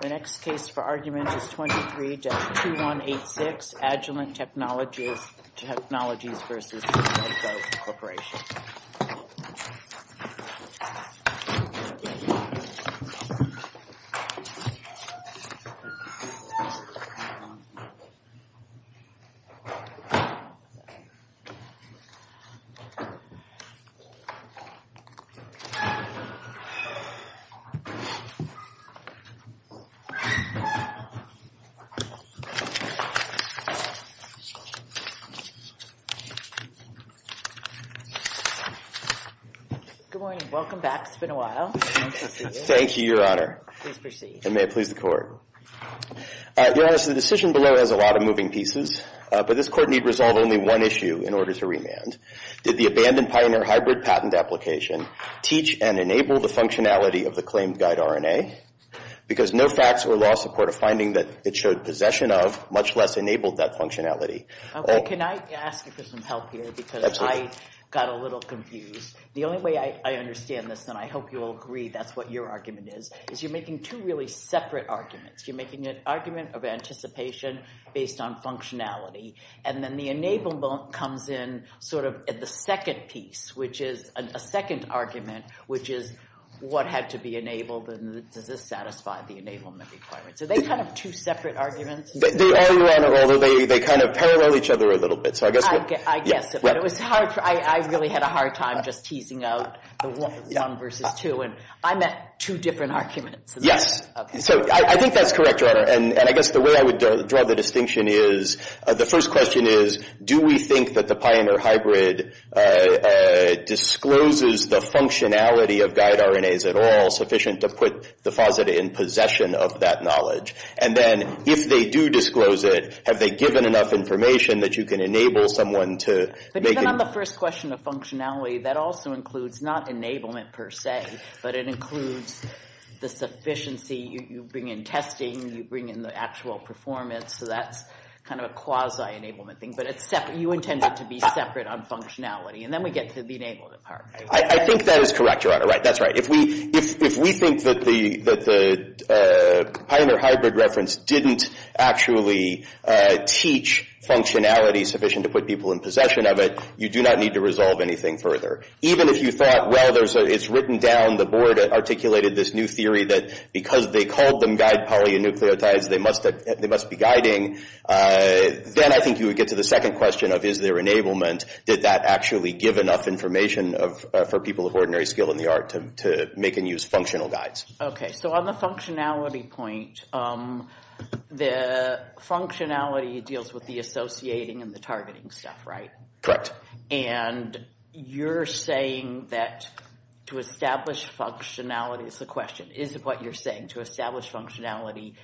The next case for argument is 23-2186 Agilent Technologies v. Synthego Corp. Your Honor, the decision below has a lot of moving pieces, but this Court need resolve only one issue in order to remand. Did the abandoned pioneer hybrid patent application teach and enable the functionality of the Because no facts or law support a finding that it showed possession of, much less enabled that functionality. Can I ask for some help here because I got a little confused. The only way I understand this, and I hope you'll agree that's what your argument is, is you're making two really separate arguments. You're making an argument of anticipation based on functionality, and then the enable comes in sort of at the second piece, which is a second argument, which is what had to be enabled. Does this satisfy the enablement requirements? Are they kind of two separate arguments? They are, Your Honor, although they kind of parallel each other a little bit, so I guess it would. I guess it would. It was hard. I really had a hard time just teasing out the one versus two, and I meant two different arguments. Yes. Okay. So I think that's correct, Your Honor, and I guess the way I would draw the distinction is, the first question is, do we think that the pioneer hybrid discloses the functionality of guide RNAs at all? And then, if they do disclose it, have they given enough information that you can enable someone to make it? But even on the first question of functionality, that also includes not enablement per se, but it includes the sufficiency. You bring in testing. You bring in the actual performance, so that's kind of a quasi-enablement thing, but you intend it to be separate on functionality, and then we get to the enablement part, right? I think that is correct, Your Honor, that's right. If we think that the pioneer hybrid reference didn't actually teach functionality sufficient to put people in possession of it, you do not need to resolve anything further. Even if you thought, well, it's written down, the board articulated this new theory that because they called them guide polynucleotides, they must be guiding, then I think you would get to the second question of, is there enablement? Did that actually give enough information for people of ordinary skill in the art to make and use functional guides? Okay, so on the functionality point, the functionality deals with the associating and the targeting stuff, right? Correct. And you're saying that to establish functionality, it's a question, is it what you're saying, to establish functionality,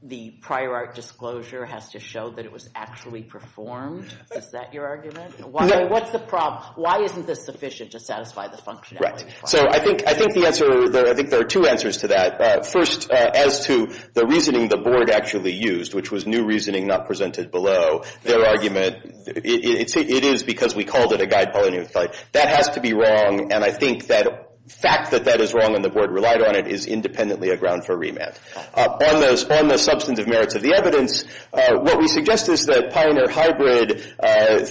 the prior art disclosure has to show that it was actually performed? Is that your argument? No. What's the problem? Why isn't this sufficient to satisfy the functionality? Right. So I think the answer, I think there are two answers to that. First, as to the reasoning the board actually used, which was new reasoning not presented below, their argument, it is because we called it a guide polynucleotide. That has to be wrong, and I think that fact that that is wrong and the board relied on it is independently a ground for remand. On the substantive merits of the evidence, what we suggest is that Pioneer Hybrid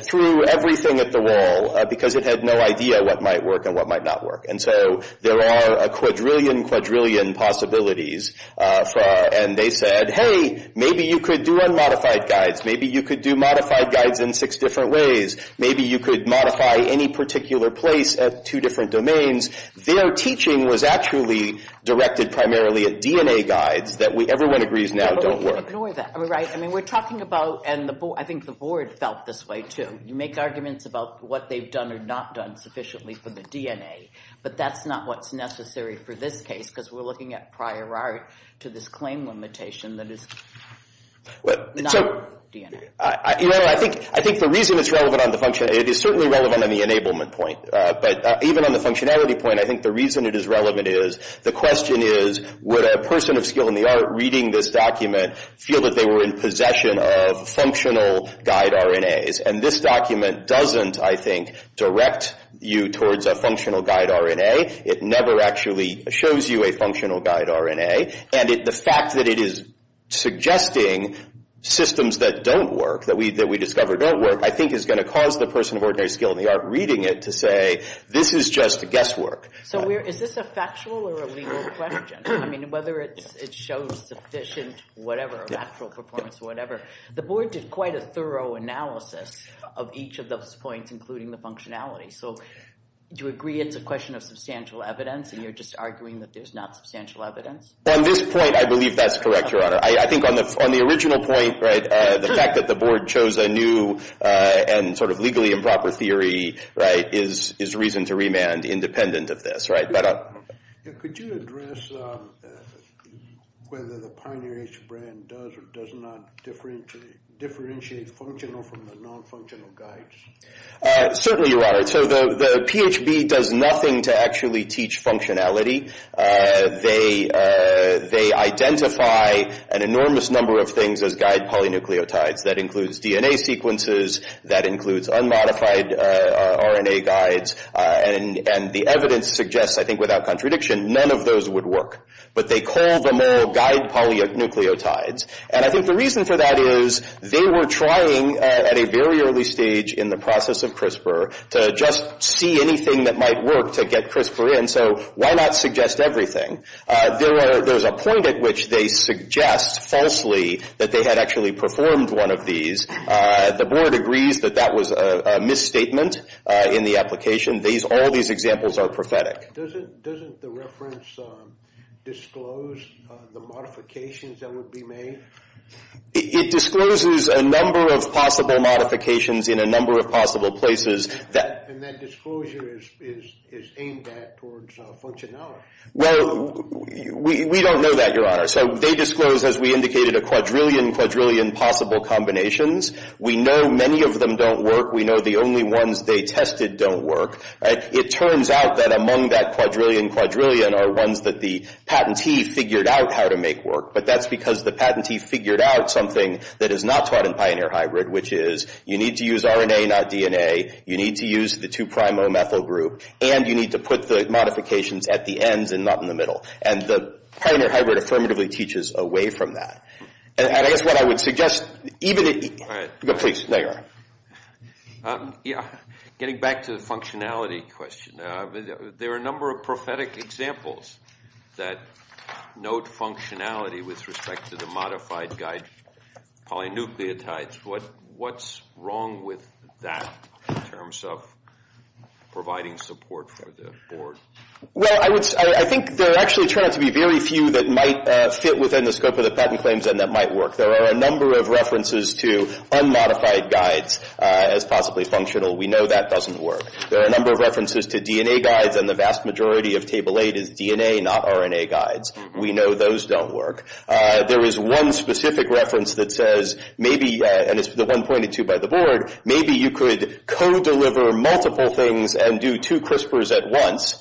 threw everything at the wall because it had no idea what might work and what might not work. And so there are a quadrillion quadrillion possibilities, and they said, hey, maybe you could do unmodified guides. Maybe you could do modified guides in six different ways. Maybe you could modify any particular place at two different domains. Their teaching was actually directed primarily at DNA guides that everyone agrees now don't work. But we can't ignore that, right? I mean, we're talking about, and I think the board felt this way too, you make arguments about what they've done or not done sufficiently for the DNA, but that's not what's necessary for this case because we're looking at prior art to this claim limitation that is not DNA. Your Honor, I think the reason it's relevant on the functionality, it is certainly relevant on the enablement point, but even on the functionality point, I think the reason it is relevant is the question is, would a person of skill in the art reading this document feel that they were in possession of functional guide RNAs? And this document doesn't, I think, direct you towards a functional guide RNA. It never actually shows you a functional guide RNA, and the fact that it is suggesting systems that don't work, that we discovered don't work, I think is going to cause the person of ordinary skill in the art reading it to say, this is just a guesswork. So is this a factual or a legal question? I mean, whether it shows sufficient, whatever, actual performance or whatever. The board did quite a thorough analysis of each of those points, including the functionality. So do you agree it's a question of substantial evidence, and you're just arguing that there's not substantial evidence? On this point, I believe that's correct, Your Honor. I think on the original point, right, the fact that the board chose a new and sort of proper theory, right, is reason to remand, independent of this, right? Could you address whether the Pioneer H brand does or does not differentiate functional from the non-functional guides? Certainly, Your Honor. So the PHB does nothing to actually teach functionality. They identify an enormous number of things as guide polynucleotides. That includes DNA sequences. That includes unmodified RNA guides. And the evidence suggests, I think without contradiction, none of those would work. But they call them all guide polynucleotides. And I think the reason for that is they were trying at a very early stage in the process of CRISPR to just see anything that might work to get CRISPR in. So why not suggest everything? There's a point at which they suggest falsely that they had actually performed one of these. The board agrees that that was a misstatement in the application. All these examples are prophetic. Doesn't the reference disclose the modifications that would be made? It discloses a number of possible modifications in a number of possible places. And that disclosure is aimed at towards functionality. Well, we don't know that, Your Honor. So they disclose, as we indicated, a quadrillion, quadrillion possible combinations. We know many of them don't work. We know the only ones they tested don't work. It turns out that among that quadrillion, quadrillion are ones that the patentee figured out how to make work. But that's because the patentee figured out something that is not taught in Pioneer Hybrid, which is you need to use RNA, not DNA. You need to use the 2-primomethyl group. And you need to put the modifications at the ends and not in the middle. And the Pioneer Hybrid affirmatively teaches away from that. And I guess what I would suggest, even if you – All right. Please, there you are. Yeah, getting back to the functionality question, there are a number of prophetic examples that note functionality with respect to the modified guide polynucleotides. What's wrong with that in terms of providing support for the board? Well, I think there actually turn out to be very few that might fit within the scope of the patent claims and that might work. There are a number of references to unmodified guides as possibly functional. We know that doesn't work. There are a number of references to DNA guides, and the vast majority of Table 8 is DNA, not RNA guides. We know those don't work. There is one specific reference that says maybe – and it's the one pointed to by the board – maybe you could co-deliver multiple things and do two CRISPRs at once.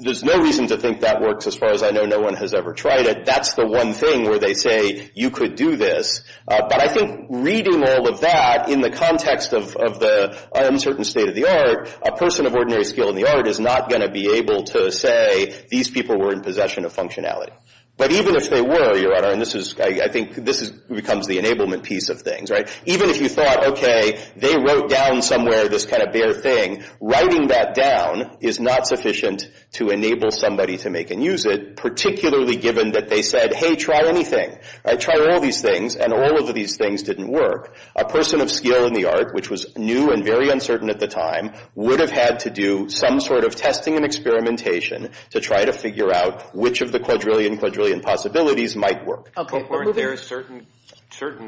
There's no reason to think that works as far as I know. No one has ever tried it. That's the one thing where they say you could do this. But I think reading all of that in the context of the uncertain state of the art, a person of ordinary skill in the art is not going to be able to say these people were in possession of functionality. But even if they were, Your Honor, and this is – I think this becomes the enablement piece of things, right? Even if you thought, okay, they wrote down somewhere this kind of bare thing, writing that down is not sufficient to enable somebody to make and use it, particularly given that they said, hey, try anything. Try all these things, and all of these things didn't work. A person of skill in the art, which was new and very uncertain at the time, would have had to do some sort of testing and experimentation to try to figure out which of the quadrillion quadrillion possibilities might work. But weren't there certain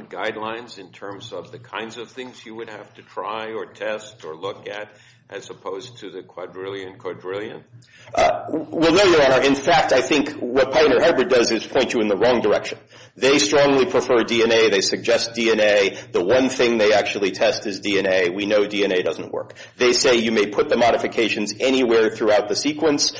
guidelines in terms of the kinds of things you would have to try or test or look at as opposed to the quadrillion quadrillion? Well, no, Your Honor. In fact, I think what Pioneer Herbert does is point you in the wrong direction. They strongly prefer DNA. They suggest DNA. The one thing they actually test is DNA. We know DNA doesn't work. They say you may put the modifications anywhere throughout the sequence.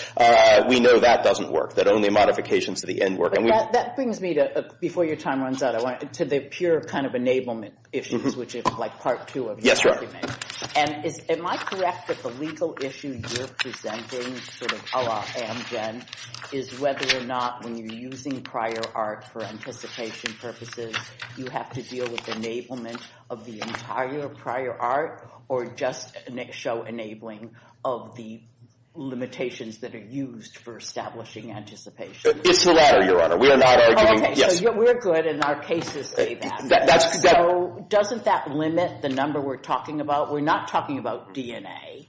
We know that doesn't work, that only modifications to the end work. That brings me to, before your time runs out, to the pure kind of enablement issues, which is like part two of your argument. Am I correct that the legal issue you're presenting, sort of a la Amgen, is whether or not when you're using prior art for anticipation purposes, you have to deal with enablement of the entire prior art or just show enabling of the limitations that are used for establishing anticipation? It's the latter, Your Honor. We are not arguing, yes. Okay, so we're good and our cases say that. So doesn't that limit the number we're talking about? We're not talking about DNA.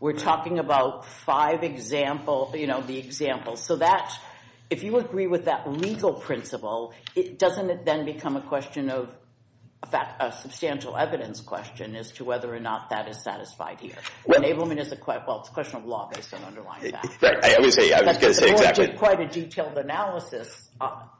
We're talking about five example, you know, the examples. So that, if you agree with that legal principle, doesn't it then become a question of substantial evidence question as to whether or not that is satisfied here? Enablement is a question of law based on underlying facts. Right, I was going to say exactly. That's quite a detailed analysis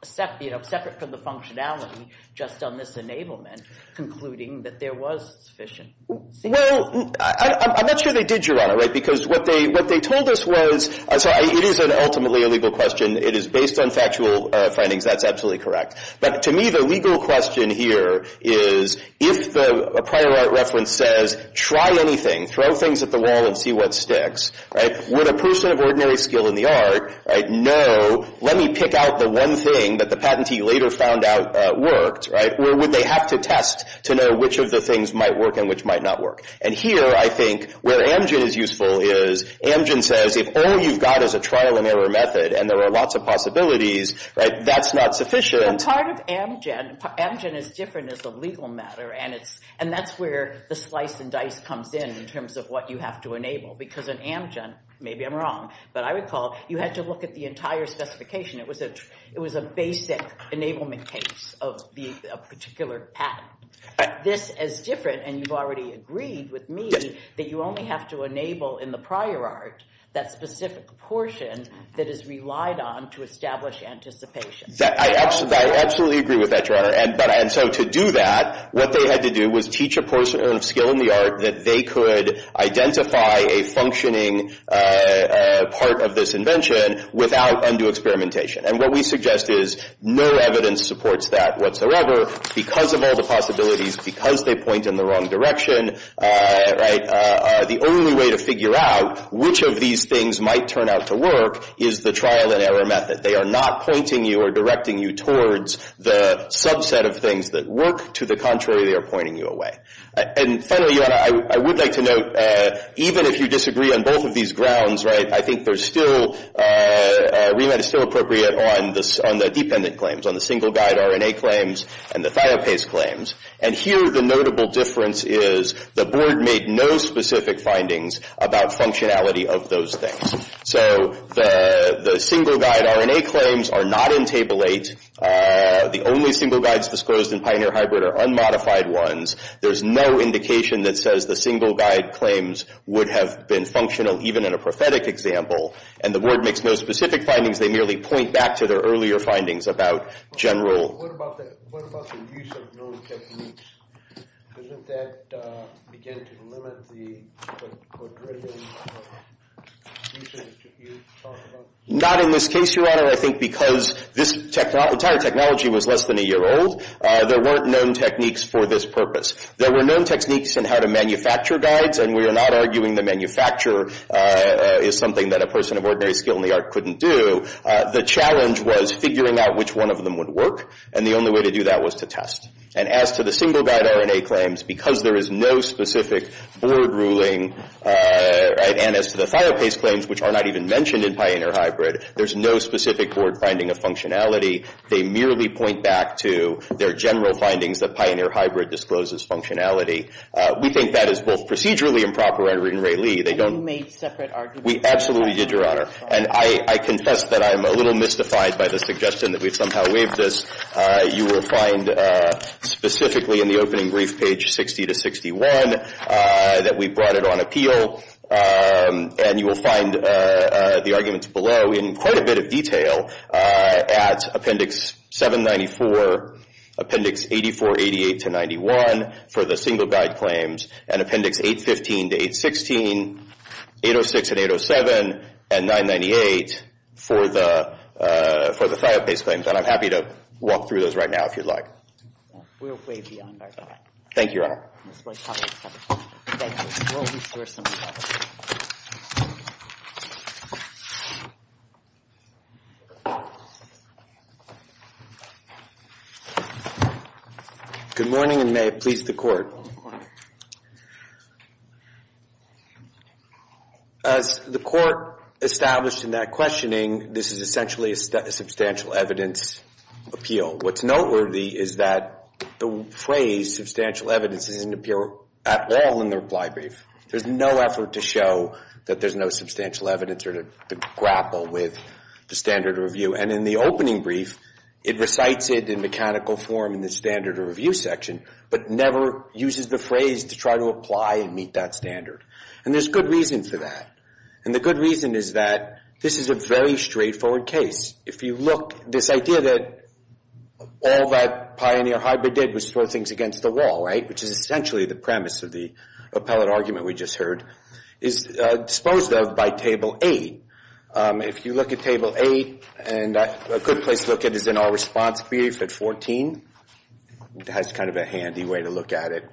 separate from the functionality just on this enablement concluding that there was sufficient. Well, I'm not sure they did, Your Honor, right? Because what they told us was, so it is ultimately a legal question. It is based on factual findings. That's absolutely correct. But to me, the legal question here is if a prior art reference says, try anything, throw things at the wall and see what sticks, right, would a person of ordinary skill in the art know, let me pick out the one thing that the patentee later found out worked, right, or would they have to test to know which of the things might work and which might not work? And here, I think, where Amgen is useful is Amgen says, if all you've got is a trial and error method and there are lots of possibilities, right, that's not sufficient. But part of Amgen, Amgen is different as a legal matter, and that's where the slice and dice comes in in terms of what you have to enable. Because in Amgen, maybe I'm wrong, but I recall you had to look at the entire specification. It was a basic enablement case of a particular patent. This is different, and you've already agreed with me, that you only have to enable in the prior art that specific portion that is relied on to establish anticipation. I absolutely agree with that, Your Honor. And so to do that, what they had to do was teach a person of skill in the art that they could identify a functioning part of this invention without undue experimentation. And what we suggest is no evidence supports that whatsoever because of all the possibilities, because they point in the wrong direction, right, the only way to figure out which of these things might turn out to work is the trial and error method. They are not pointing you or directing you towards the subset of things that work. To the contrary, they are pointing you away. And finally, Your Honor, I would like to note, even if you disagree on both of these grounds, right, I think there's still remit is still appropriate on the dependent claims, on the single-guide RNA claims and the thiopase claims. And here the notable difference is the Board made no specific findings about functionality of those things. So the single-guide RNA claims are not in Table 8. The only single-guides disclosed in Pioneer Hybrid are unmodified ones. There's no indication that says the single-guide claims would have been functional, even in a prophetic example, and the Board makes no specific findings. They merely point back to their earlier findings about general. What about the use of known techniques? Doesn't that begin to limit the use of techniques? Not in this case, Your Honor. I think because this entire technology was less than a year old, there weren't known techniques for this purpose. There were known techniques in how to manufacture guides, and we are not arguing that manufacture is something that a person of ordinary skill in the art couldn't do. The challenge was figuring out which one of them would work, and the only way to do that was to test. And as to the single-guide RNA claims, because there is no specific Board ruling, and as to the thiopase claims, which are not even mentioned in Pioneer Hybrid, there's no specific Board finding of functionality. They merely point back to their general findings that Pioneer Hybrid discloses functionality. We think that is both procedurally improper and in Ray Lee. And you made separate arguments. We absolutely did, Your Honor. And I confess that I'm a little mystified by the suggestion that we've somehow waived this. You will find specifically in the opening brief page 60-61 that we brought it on appeal, and you will find the arguments below in quite a bit of detail at Appendix 794, Appendix 84-88-91 for the single-guide claims, and Appendix 815-816, 806 and 807, and 998 for the thiopase claims. And I'm happy to walk through those right now if you'd like. We're way beyond our time. Thank you, Your Honor. Good morning, and may it please the Court. As the Court established in that questioning, this is essentially a substantial evidence appeal. What's noteworthy is that the phrase substantial evidence doesn't appear at all in the reply brief. There's no effort to show that there's no substantial evidence or to grapple with the standard review. And in the opening brief, it recites it in mechanical form in the standard review section but never uses the phrase to try to apply and meet that standard. And there's good reason for that. And the good reason is that this is a very straightforward case. If you look, this idea that all that pioneer hybrid did was throw things against the wall, right, which is essentially the premise of the appellate argument we just heard, is disposed of by Table 8. If you look at Table 8, and a good place to look at it is in our response brief at 14. That's kind of a handy way to look at it.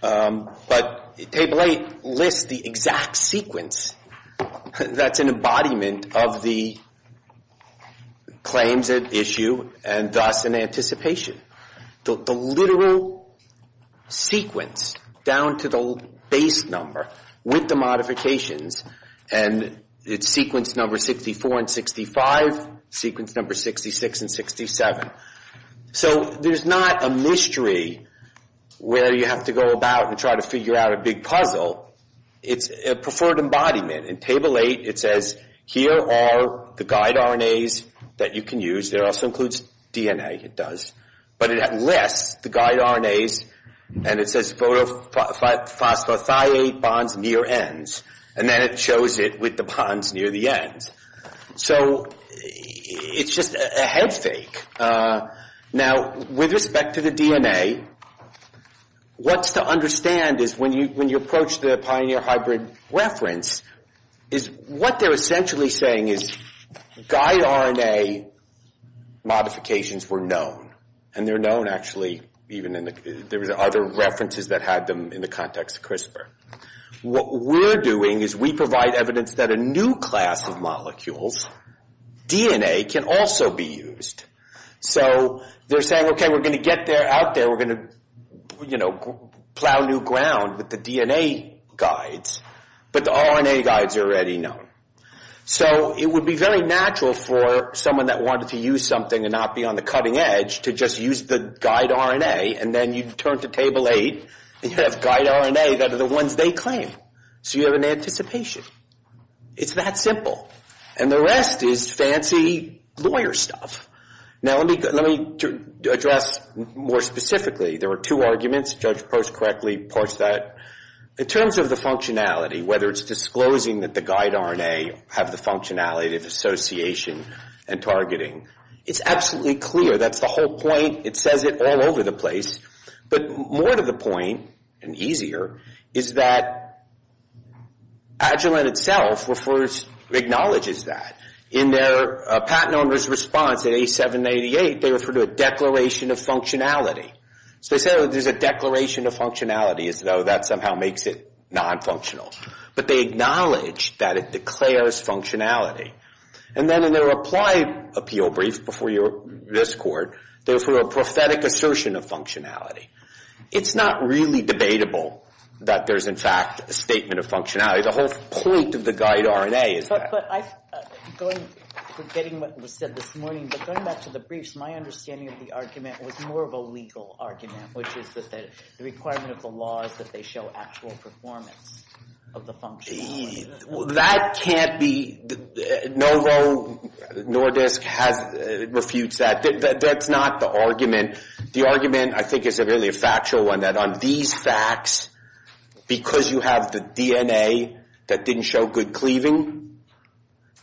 But Table 8 lists the exact sequence that's an embodiment of the claims at issue and thus in anticipation. The literal sequence down to the base number with the modifications, and it's sequence number 64 and 65, sequence number 66 and 67. So there's not a mystery where you have to go about and try to figure out a big puzzle. It's a preferred embodiment. In Table 8, it says, here are the guide RNAs that you can use. It also includes DNA, it does. But it lists the guide RNAs, and it says, photophosphothiate bonds near ends. And then it shows it with the bonds near the ends. So it's just a head fake. Now, with respect to the DNA, what's to understand is when you approach the pioneer hybrid reference, is what they're essentially saying is guide RNA modifications were known. And they're known, actually, even in the other references that had them in the context of CRISPR. What we're doing is we provide evidence that a new class of molecules, DNA, can also be used. So they're saying, okay, we're going to get out there, we're going to plow new ground with the DNA guides. But the RNA guides are already known. So it would be very natural for someone that wanted to use something and not be on the cutting edge to just use the guide RNA, and then you'd turn to Table 8, and you'd have guide RNA that are the ones they claim. So you have an anticipation. It's that simple. And the rest is fancy lawyer stuff. Now, let me address more specifically. There were two arguments. Judge Post correctly points that. In terms of the functionality, whether it's disclosing that the guide RNA have the functionality of association and targeting, it's absolutely clear. That's the whole point. It says it all over the place. But more to the point, and easier, is that Agilent itself acknowledges that. In their patent owner's response at A788, they referred to a declaration of functionality. So they said there's a declaration of functionality, as though that somehow makes it non-functional. But they acknowledge that it declares functionality. And then in their applied appeal brief before this court, there's sort of a prophetic assertion of functionality. It's not really debatable that there's, in fact, a statement of functionality. The whole point of the guide RNA is that. Forgetting what was said this morning, but going back to the briefs, my understanding of the argument was more of a legal argument, which is that the requirement of the law is that they show actual performance of the functionality. That can't be. Novo Nordisk refutes that. That's not the argument. The argument, I think, is really a factual one, that on these facts, because you have the DNA that didn't show good cleaving,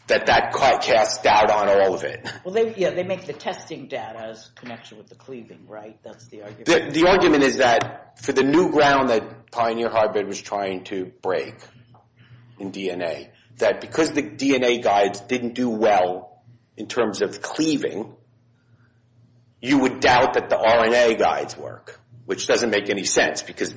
that that court casts doubt on all of it. Well, yeah, they make the testing data as a connection with the cleaving, right? That's the argument. The argument is that for the new ground that Pioneer Hybrid was trying to break in DNA, that because the DNA guides didn't do well in terms of cleaving, you would doubt that the RNA guides work. Which doesn't make any sense, because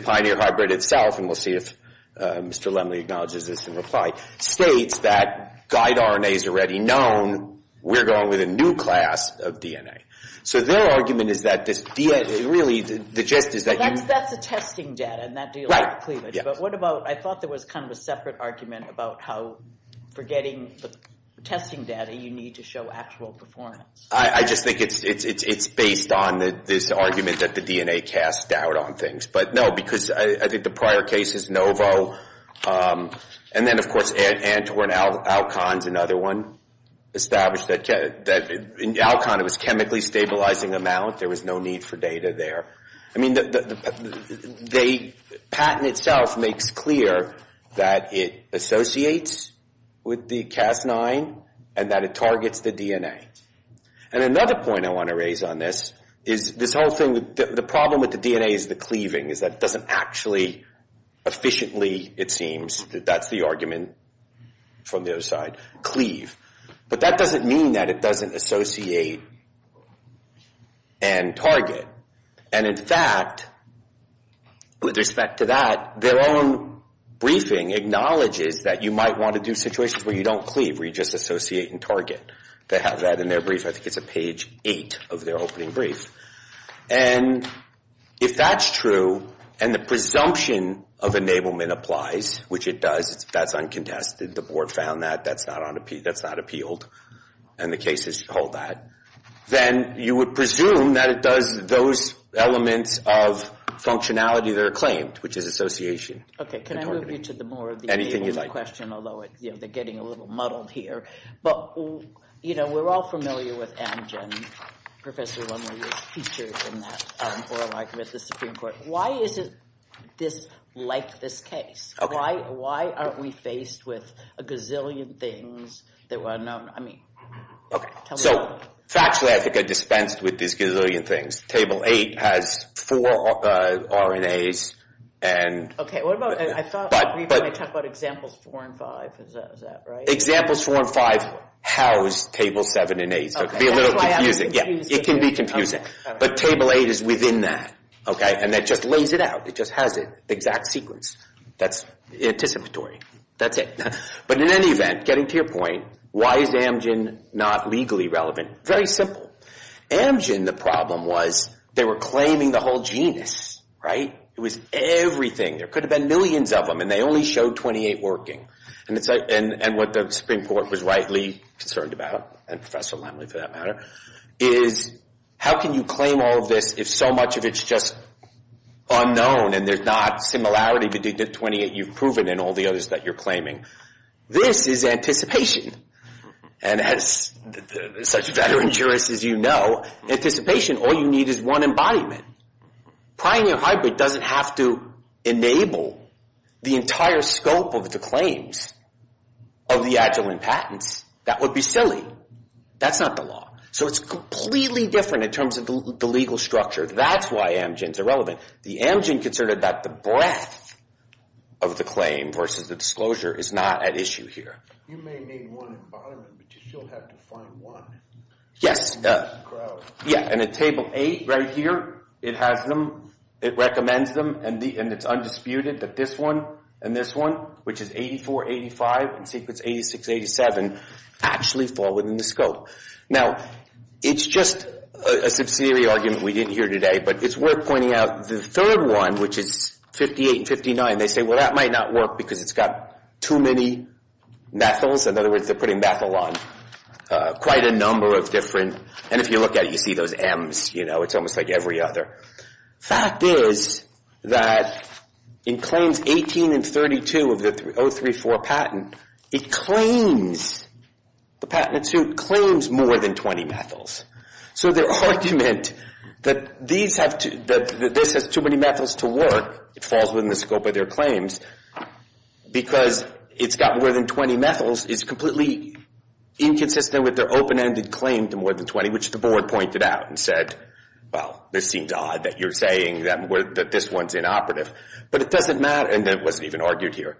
Pioneer Hybrid itself, and we'll see if Mr. Lemley acknowledges this in reply, states that guide RNA is already known. We're going with a new class of DNA. So their argument is that this DNA really, the gist is that you- That's the testing data, and that deals with cleavage. But what about, I thought there was kind of a separate argument about how forgetting the testing data, you need to show actual performance. I just think it's based on this argument that the DNA casts doubt on things. But no, because I think the prior case is Novo. And then, of course, Antwerp and Alcon's another one established that, in Alcon, it was chemically stabilizing amount. There was no need for data there. I mean, the patent itself makes clear that it associates with the Cas9, and that it targets the DNA. And another point I want to raise on this is this whole thing, the problem with the DNA is the cleaving, is that it doesn't actually efficiently, it seems, that's the argument from the other side, cleave. But that doesn't mean that it doesn't associate and target. And in fact, with respect to that, their own briefing acknowledges that you might want to do situations where you don't cleave, where you just associate and target. They have that in their brief. I think it's on page 8 of their opening brief. And if that's true, and the presumption of enablement applies, which it does, that's uncontested, the board found that, that's not appealed, and the cases hold that, then you would presume that it does those elements of functionality that are claimed, which is association. Okay, can I move you to the more of the enabling question, although they're getting a little muddled here. But, you know, we're all familiar with Amgen, Professor Lumley was featured in that oral argument at the Supreme Court. Why isn't this like this case? Why aren't we faced with a gazillion things that were unknown? I mean, tell me why. So, factually, I think I dispensed with these gazillion things. Table 8 has four RNAs, and... Okay, what about, I thought we were going to talk about examples 4 and 5. Is that right? Examples 4 and 5 house Table 7 and 8, so it can be a little confusing. Yeah, it can be confusing. But Table 8 is within that, okay? And that just lays it out. It just has the exact sequence that's anticipatory. That's it. But in any event, getting to your point, why is Amgen not legally relevant? Very simple. Amgen, the problem was, they were claiming the whole genus, right? It was everything. There could have been millions of them, and they only showed 28 working. And what the Supreme Court was rightly concerned about, and Professor Lemley for that matter, is how can you claim all of this if so much of it's just unknown and there's not similarity between the 28 you've proven and all the others that you're claiming? This is anticipation. And as such veteran jurists as you know, anticipation, all you need is one embodiment. Pioneer Hybrid doesn't have to enable the entire scope of the claims of the Agilent patents. That would be silly. That's not the law. So it's completely different in terms of the legal structure. That's why Amgen's irrelevant. The Amgen considered that the breadth of the claim versus the disclosure is not at issue here. You may need one embodiment, but you still have to find one. Yes. And at Table 8 right here, it has them, it recommends them, and it's undisputed that this one and this one, which is 84-85 and sequence 86-87, actually fall within the scope. Now, it's just a subsidiary argument we didn't hear today, but it's worth pointing out the third one, which is 58-59. They say, well, that might not work because it's got too many methyls. In other words, they're putting methyl on quite a number of different, and if you look at it, you see those M's. It's almost like every other. The fact is that in claims 18 and 32 of the 034 patent, it claims, the patent it sued, claims more than 20 methyls. So their argument that this has too many methyls to work, it falls within the scope of their claims, because it's got more than 20 methyls is completely inconsistent with their open-ended claim to more than 20, which the board pointed out and said, well, this seems odd that you're saying that this one's inoperative. But it doesn't matter, and it wasn't even argued here.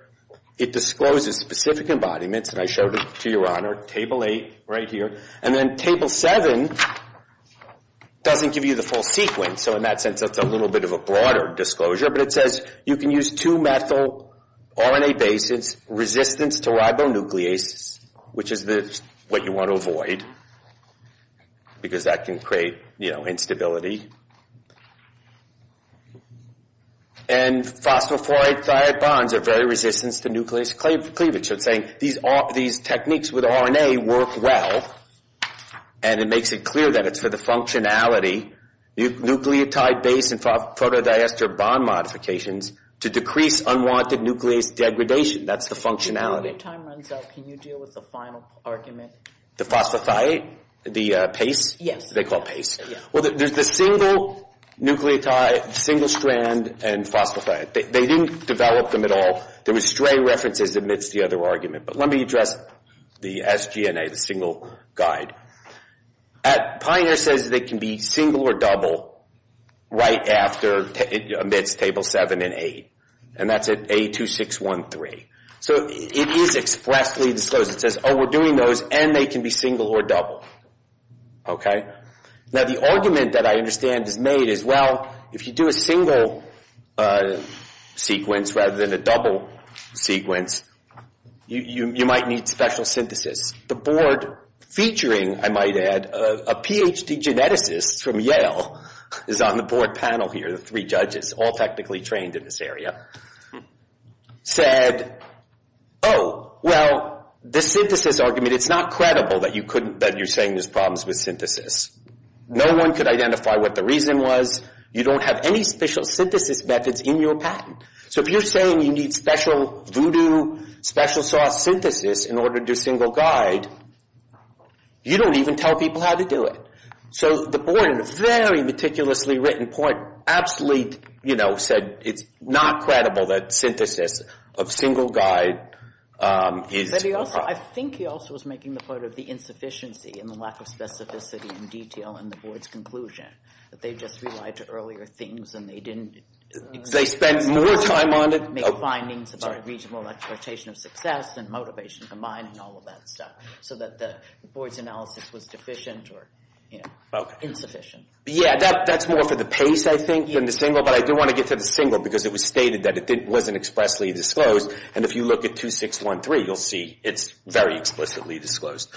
It discloses specific embodiments, and I showed it to your honor, Table 8 right here. And then Table 7 doesn't give you the full sequence, so in that sense it's a little bit of a broader disclosure, but it says you can use two methyl RNA bases, resistance to ribonuclease, which is what you want to avoid, because that can create instability, and phosphofluoride-thiated bonds are very resistant to nucleus cleavage. So it's saying these techniques with RNA work well, and it makes it clear that it's for the functionality, nucleotide base and photodiester bond modifications to decrease unwanted nucleus degradation. That's the functionality. When your time runs out, can you deal with the final argument? The phosphothiate? The PACE? Yes. They call it PACE. Well, there's the single nucleotide, single strand, and phosphothiate. They didn't develop them at all. There was stray references amidst the other argument, but let me address the sGNA, the single guide. Pioneer says they can be single or double right after, or amidst Table 7 and 8, and that's at A2613. So it is expressly disclosed. It says, oh, we're doing those, and they can be single or double. Now the argument that I understand is made is, well, if you do a single sequence rather than a double sequence, you might need special synthesis. The board featuring, I might add, a Ph.D. geneticist from Yale is on the board panel here, the three judges, all technically trained in this area, said, oh, well, the synthesis argument, it's not credible that you're saying there's problems with synthesis. No one could identify what the reason was. You don't have any special synthesis methods in your patent. So if you're saying you need special voodoo, special sauce synthesis in order to do single guide, you don't even tell people how to do it. So the board, in a very meticulously written point, absolutely said it's not credible that synthesis of single guide is... But I think he also was making the point of the insufficiency and the lack of specificity and detail in the board's conclusion, that they just relied to earlier things and they didn't... They spent more time on it... Make findings about reasonable exploitation of success and motivation combined and all of that stuff, so that the board's analysis was deficient or insufficient. Yeah, that's more for the pace, I think, than the single, but I do want to get to the single because it was stated that it wasn't expressly disclosed. And if you look at 2613, you'll see it's very explicitly disclosed.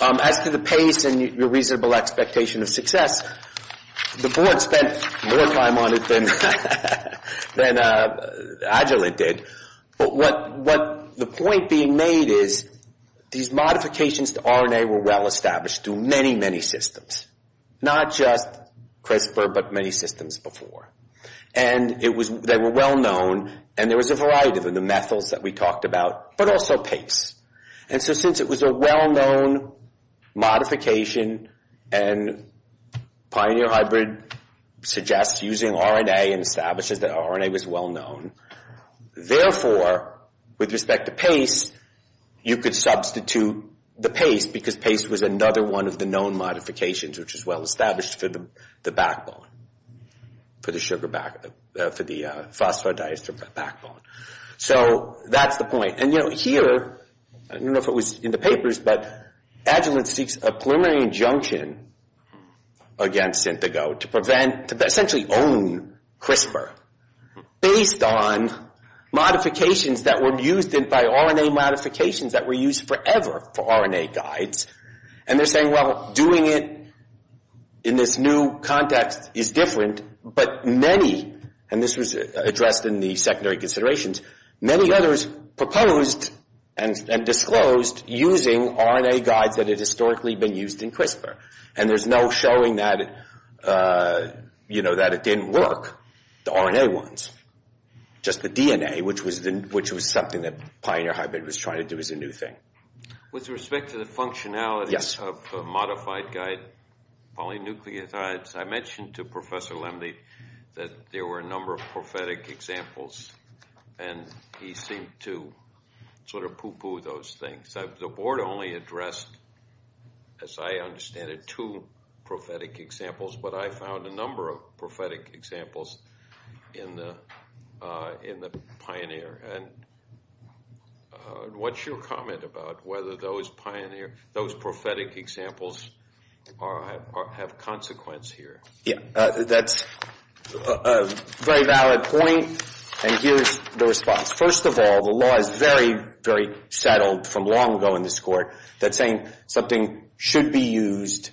As to the pace and your reasonable expectation of success, the board spent more time on it than Agilent did. But the point being made is these modifications to RNA were well established through many, many systems. Not just CRISPR, but many systems before. And they were well known and there was a variety of them. The methyls that we talked about, but also PAPEs. And so since it was a well-known modification and Pioneer Hybrid suggests using RNA and establishes that RNA was well known, therefore, with respect to pace, you could substitute the pace because pace was another one of the known modifications, which is well established for the backbone, for the phosphodiester backbone. So that's the point. And here, I don't know if it was in the papers, but Agilent seeks a preliminary injunction against SYNTAGO to prevent, to essentially own CRISPR based on modifications that were used by RNA modifications that were used forever for RNA guides. And they're saying, well, doing it in this new context is different, but many, and this was addressed in the secondary considerations, many others proposed and disclosed using RNA guides that had historically been used in CRISPR. And there's no showing that it didn't work, the RNA ones, just the DNA, which was something that Pioneer Hybrid was trying to do as a new thing. With respect to the functionality of modified guide polynucleotides, I mentioned to Professor Lembe that there were a number of prophetic examples, and he seemed to sort of poo-poo those things. The board only addressed, as I understand it, two prophetic examples, but I found a number of prophetic examples in the Pioneer. And what's your comment about whether those prophetic examples have consequence here? Yeah, that's a very valid point, and here's the response. First of all, the law is very, very settled from long ago in this court that saying something should be used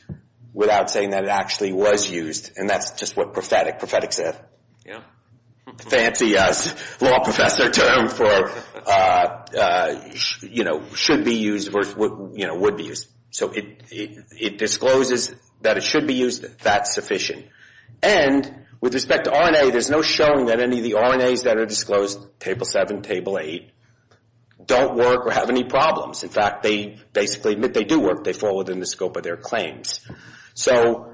without saying that it actually was used, and that's just what prophetic said. Fancy law professor term for, you know, should be used versus would be used. So it discloses that it should be used, that's sufficient. And with respect to RNA, there's no showing that any of the RNAs that are disclosed, Table 7, Table 8, don't work or have any problems. In fact, they basically admit they do work. They fall within the scope of their claims. So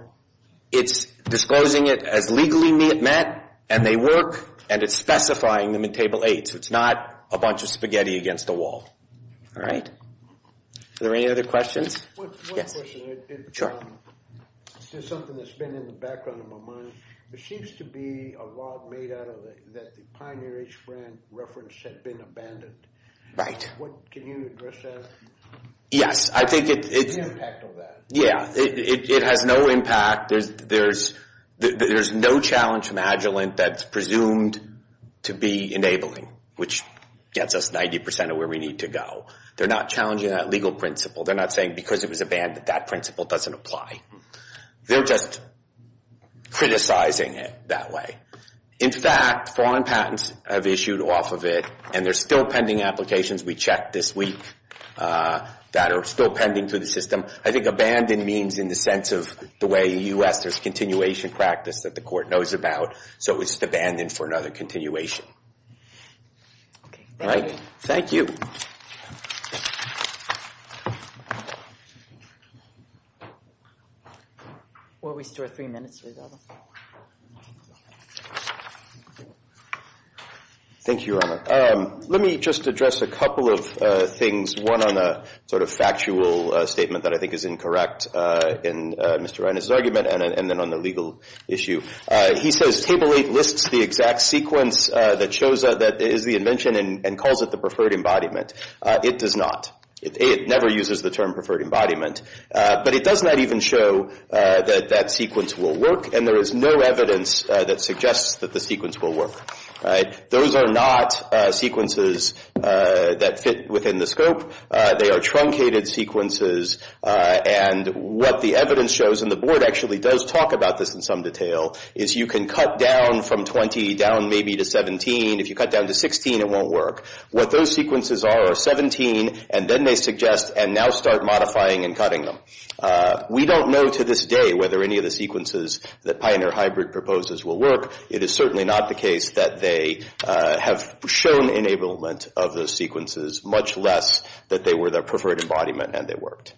it's disclosing it as legally met, and they work, and it's specifying them in Table 8. So it's not a bunch of spaghetti against a wall. All right? Are there any other questions? Yes. I have a question. Sure. This is something that's been in the background of my mind. There seems to be a law made out of it that the Pioneer H brand reference had been abandoned. Right. Can you address that? Yes. I think it's – What's the impact of that? Yeah. It has no impact. There's no challenge from Agilent that's presumed to be enabling, which gets us 90% of where we need to go. They're not challenging that legal principle. They're not saying because it was abandoned that principle doesn't apply. They're just criticizing it that way. In fact, foreign patents have issued off of it, and there's still pending applications we checked this week that are still pending through the system. I think abandoned means in the sense of the way in the U.S. there's continuation practice that the court knows about, so it was just abandoned for another continuation. All right. Thank you. Thank you. Why don't we start three minutes? Thank you, Your Honor. Let me just address a couple of things, one on a sort of factual statement that I think is incorrect in Mr. Reines' argument, and then on the legal issue. He says, Table 8 lists the exact sequence that is the invention and calls it the preferred embodiment. It does not. It never uses the term preferred embodiment, but it does not even show that that sequence will work, and there is no evidence that suggests that the sequence will work. Those are not sequences that fit within the scope. They are truncated sequences, and what the evidence shows, and the board actually does talk about this in some detail, is you can cut down from 20, down maybe to 17. If you cut down to 16, it won't work. What those sequences are are 17, and then they suggest, and now start modifying and cutting them. We don't know to this day whether any of the sequences that Pioneer Hybrid proposes will work. It is certainly not the case that they have shown enablement of those sequences, much less that they were the preferred embodiment and they worked.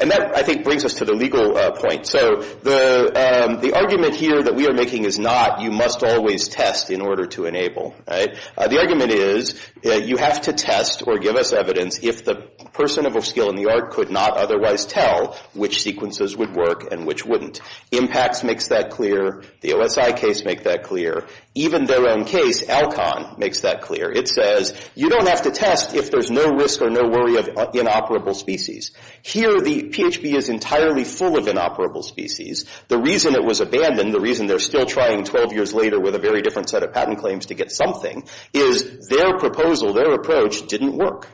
And that, I think, brings us to the legal point. So the argument here that we are making is not you must always test in order to enable. The argument is you have to test or give us evidence if the person of a skill in the art could not otherwise tell which sequences would work and which wouldn't. IMPACTS makes that clear. The OSI case makes that clear. Even their own case, ALCON, makes that clear. It says you don't have to test if there's no risk or no worry of inoperable species. Here, the PHB is entirely full of inoperable species. The reason it was abandoned, the reason they're still trying 12 years later with a very different set of patent claims to get something, is their proposal, their approach didn't work.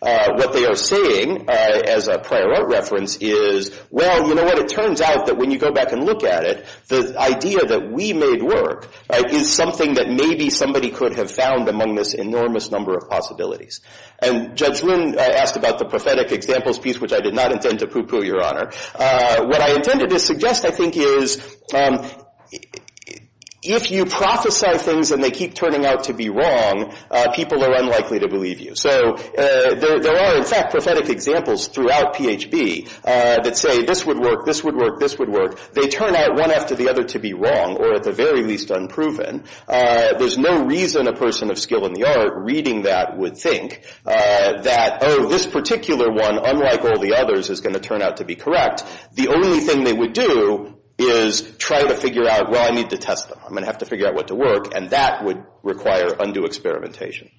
What they are saying, as a prior art reference, is, well, you know what? It turns out that when you go back and look at it, the idea that we made work is something that maybe somebody could have found among this enormous number of possibilities. And Judge Wynn asked about the prophetic examples piece, which I did not intend to poo-poo, Your Honor. What I intended to suggest, I think, is if you prophesy things and they keep turning out to be wrong, people are unlikely to believe you. So there are, in fact, prophetic examples throughout PHB that say this would work, this would work, this would work. They turn out one after the other to be wrong or, at the very least, unproven. There's no reason a person of skill in the art reading that would think that, oh, this particular one, unlike all the others, is going to turn out to be correct. The only thing they would do is try to figure out, well, I need to test them. I'm going to have to figure out what to work, and that would require undue experimentation.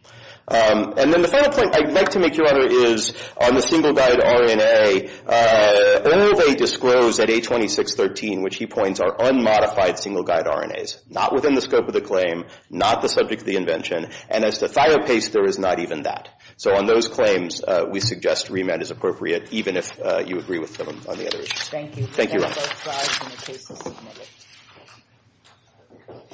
And then the final point I'd like to make, Your Honor, is on the single-guide RNA, Ove disclosed at 826.13, which he points, are unmodified single-guide RNAs, not within the scope of the claim, not the subject of the invention. And as to thiopaste, there is not even that. So on those claims, we suggest remand is appropriate, even if you agree with him on the other issue. Thank you. Thank you, Your Honor.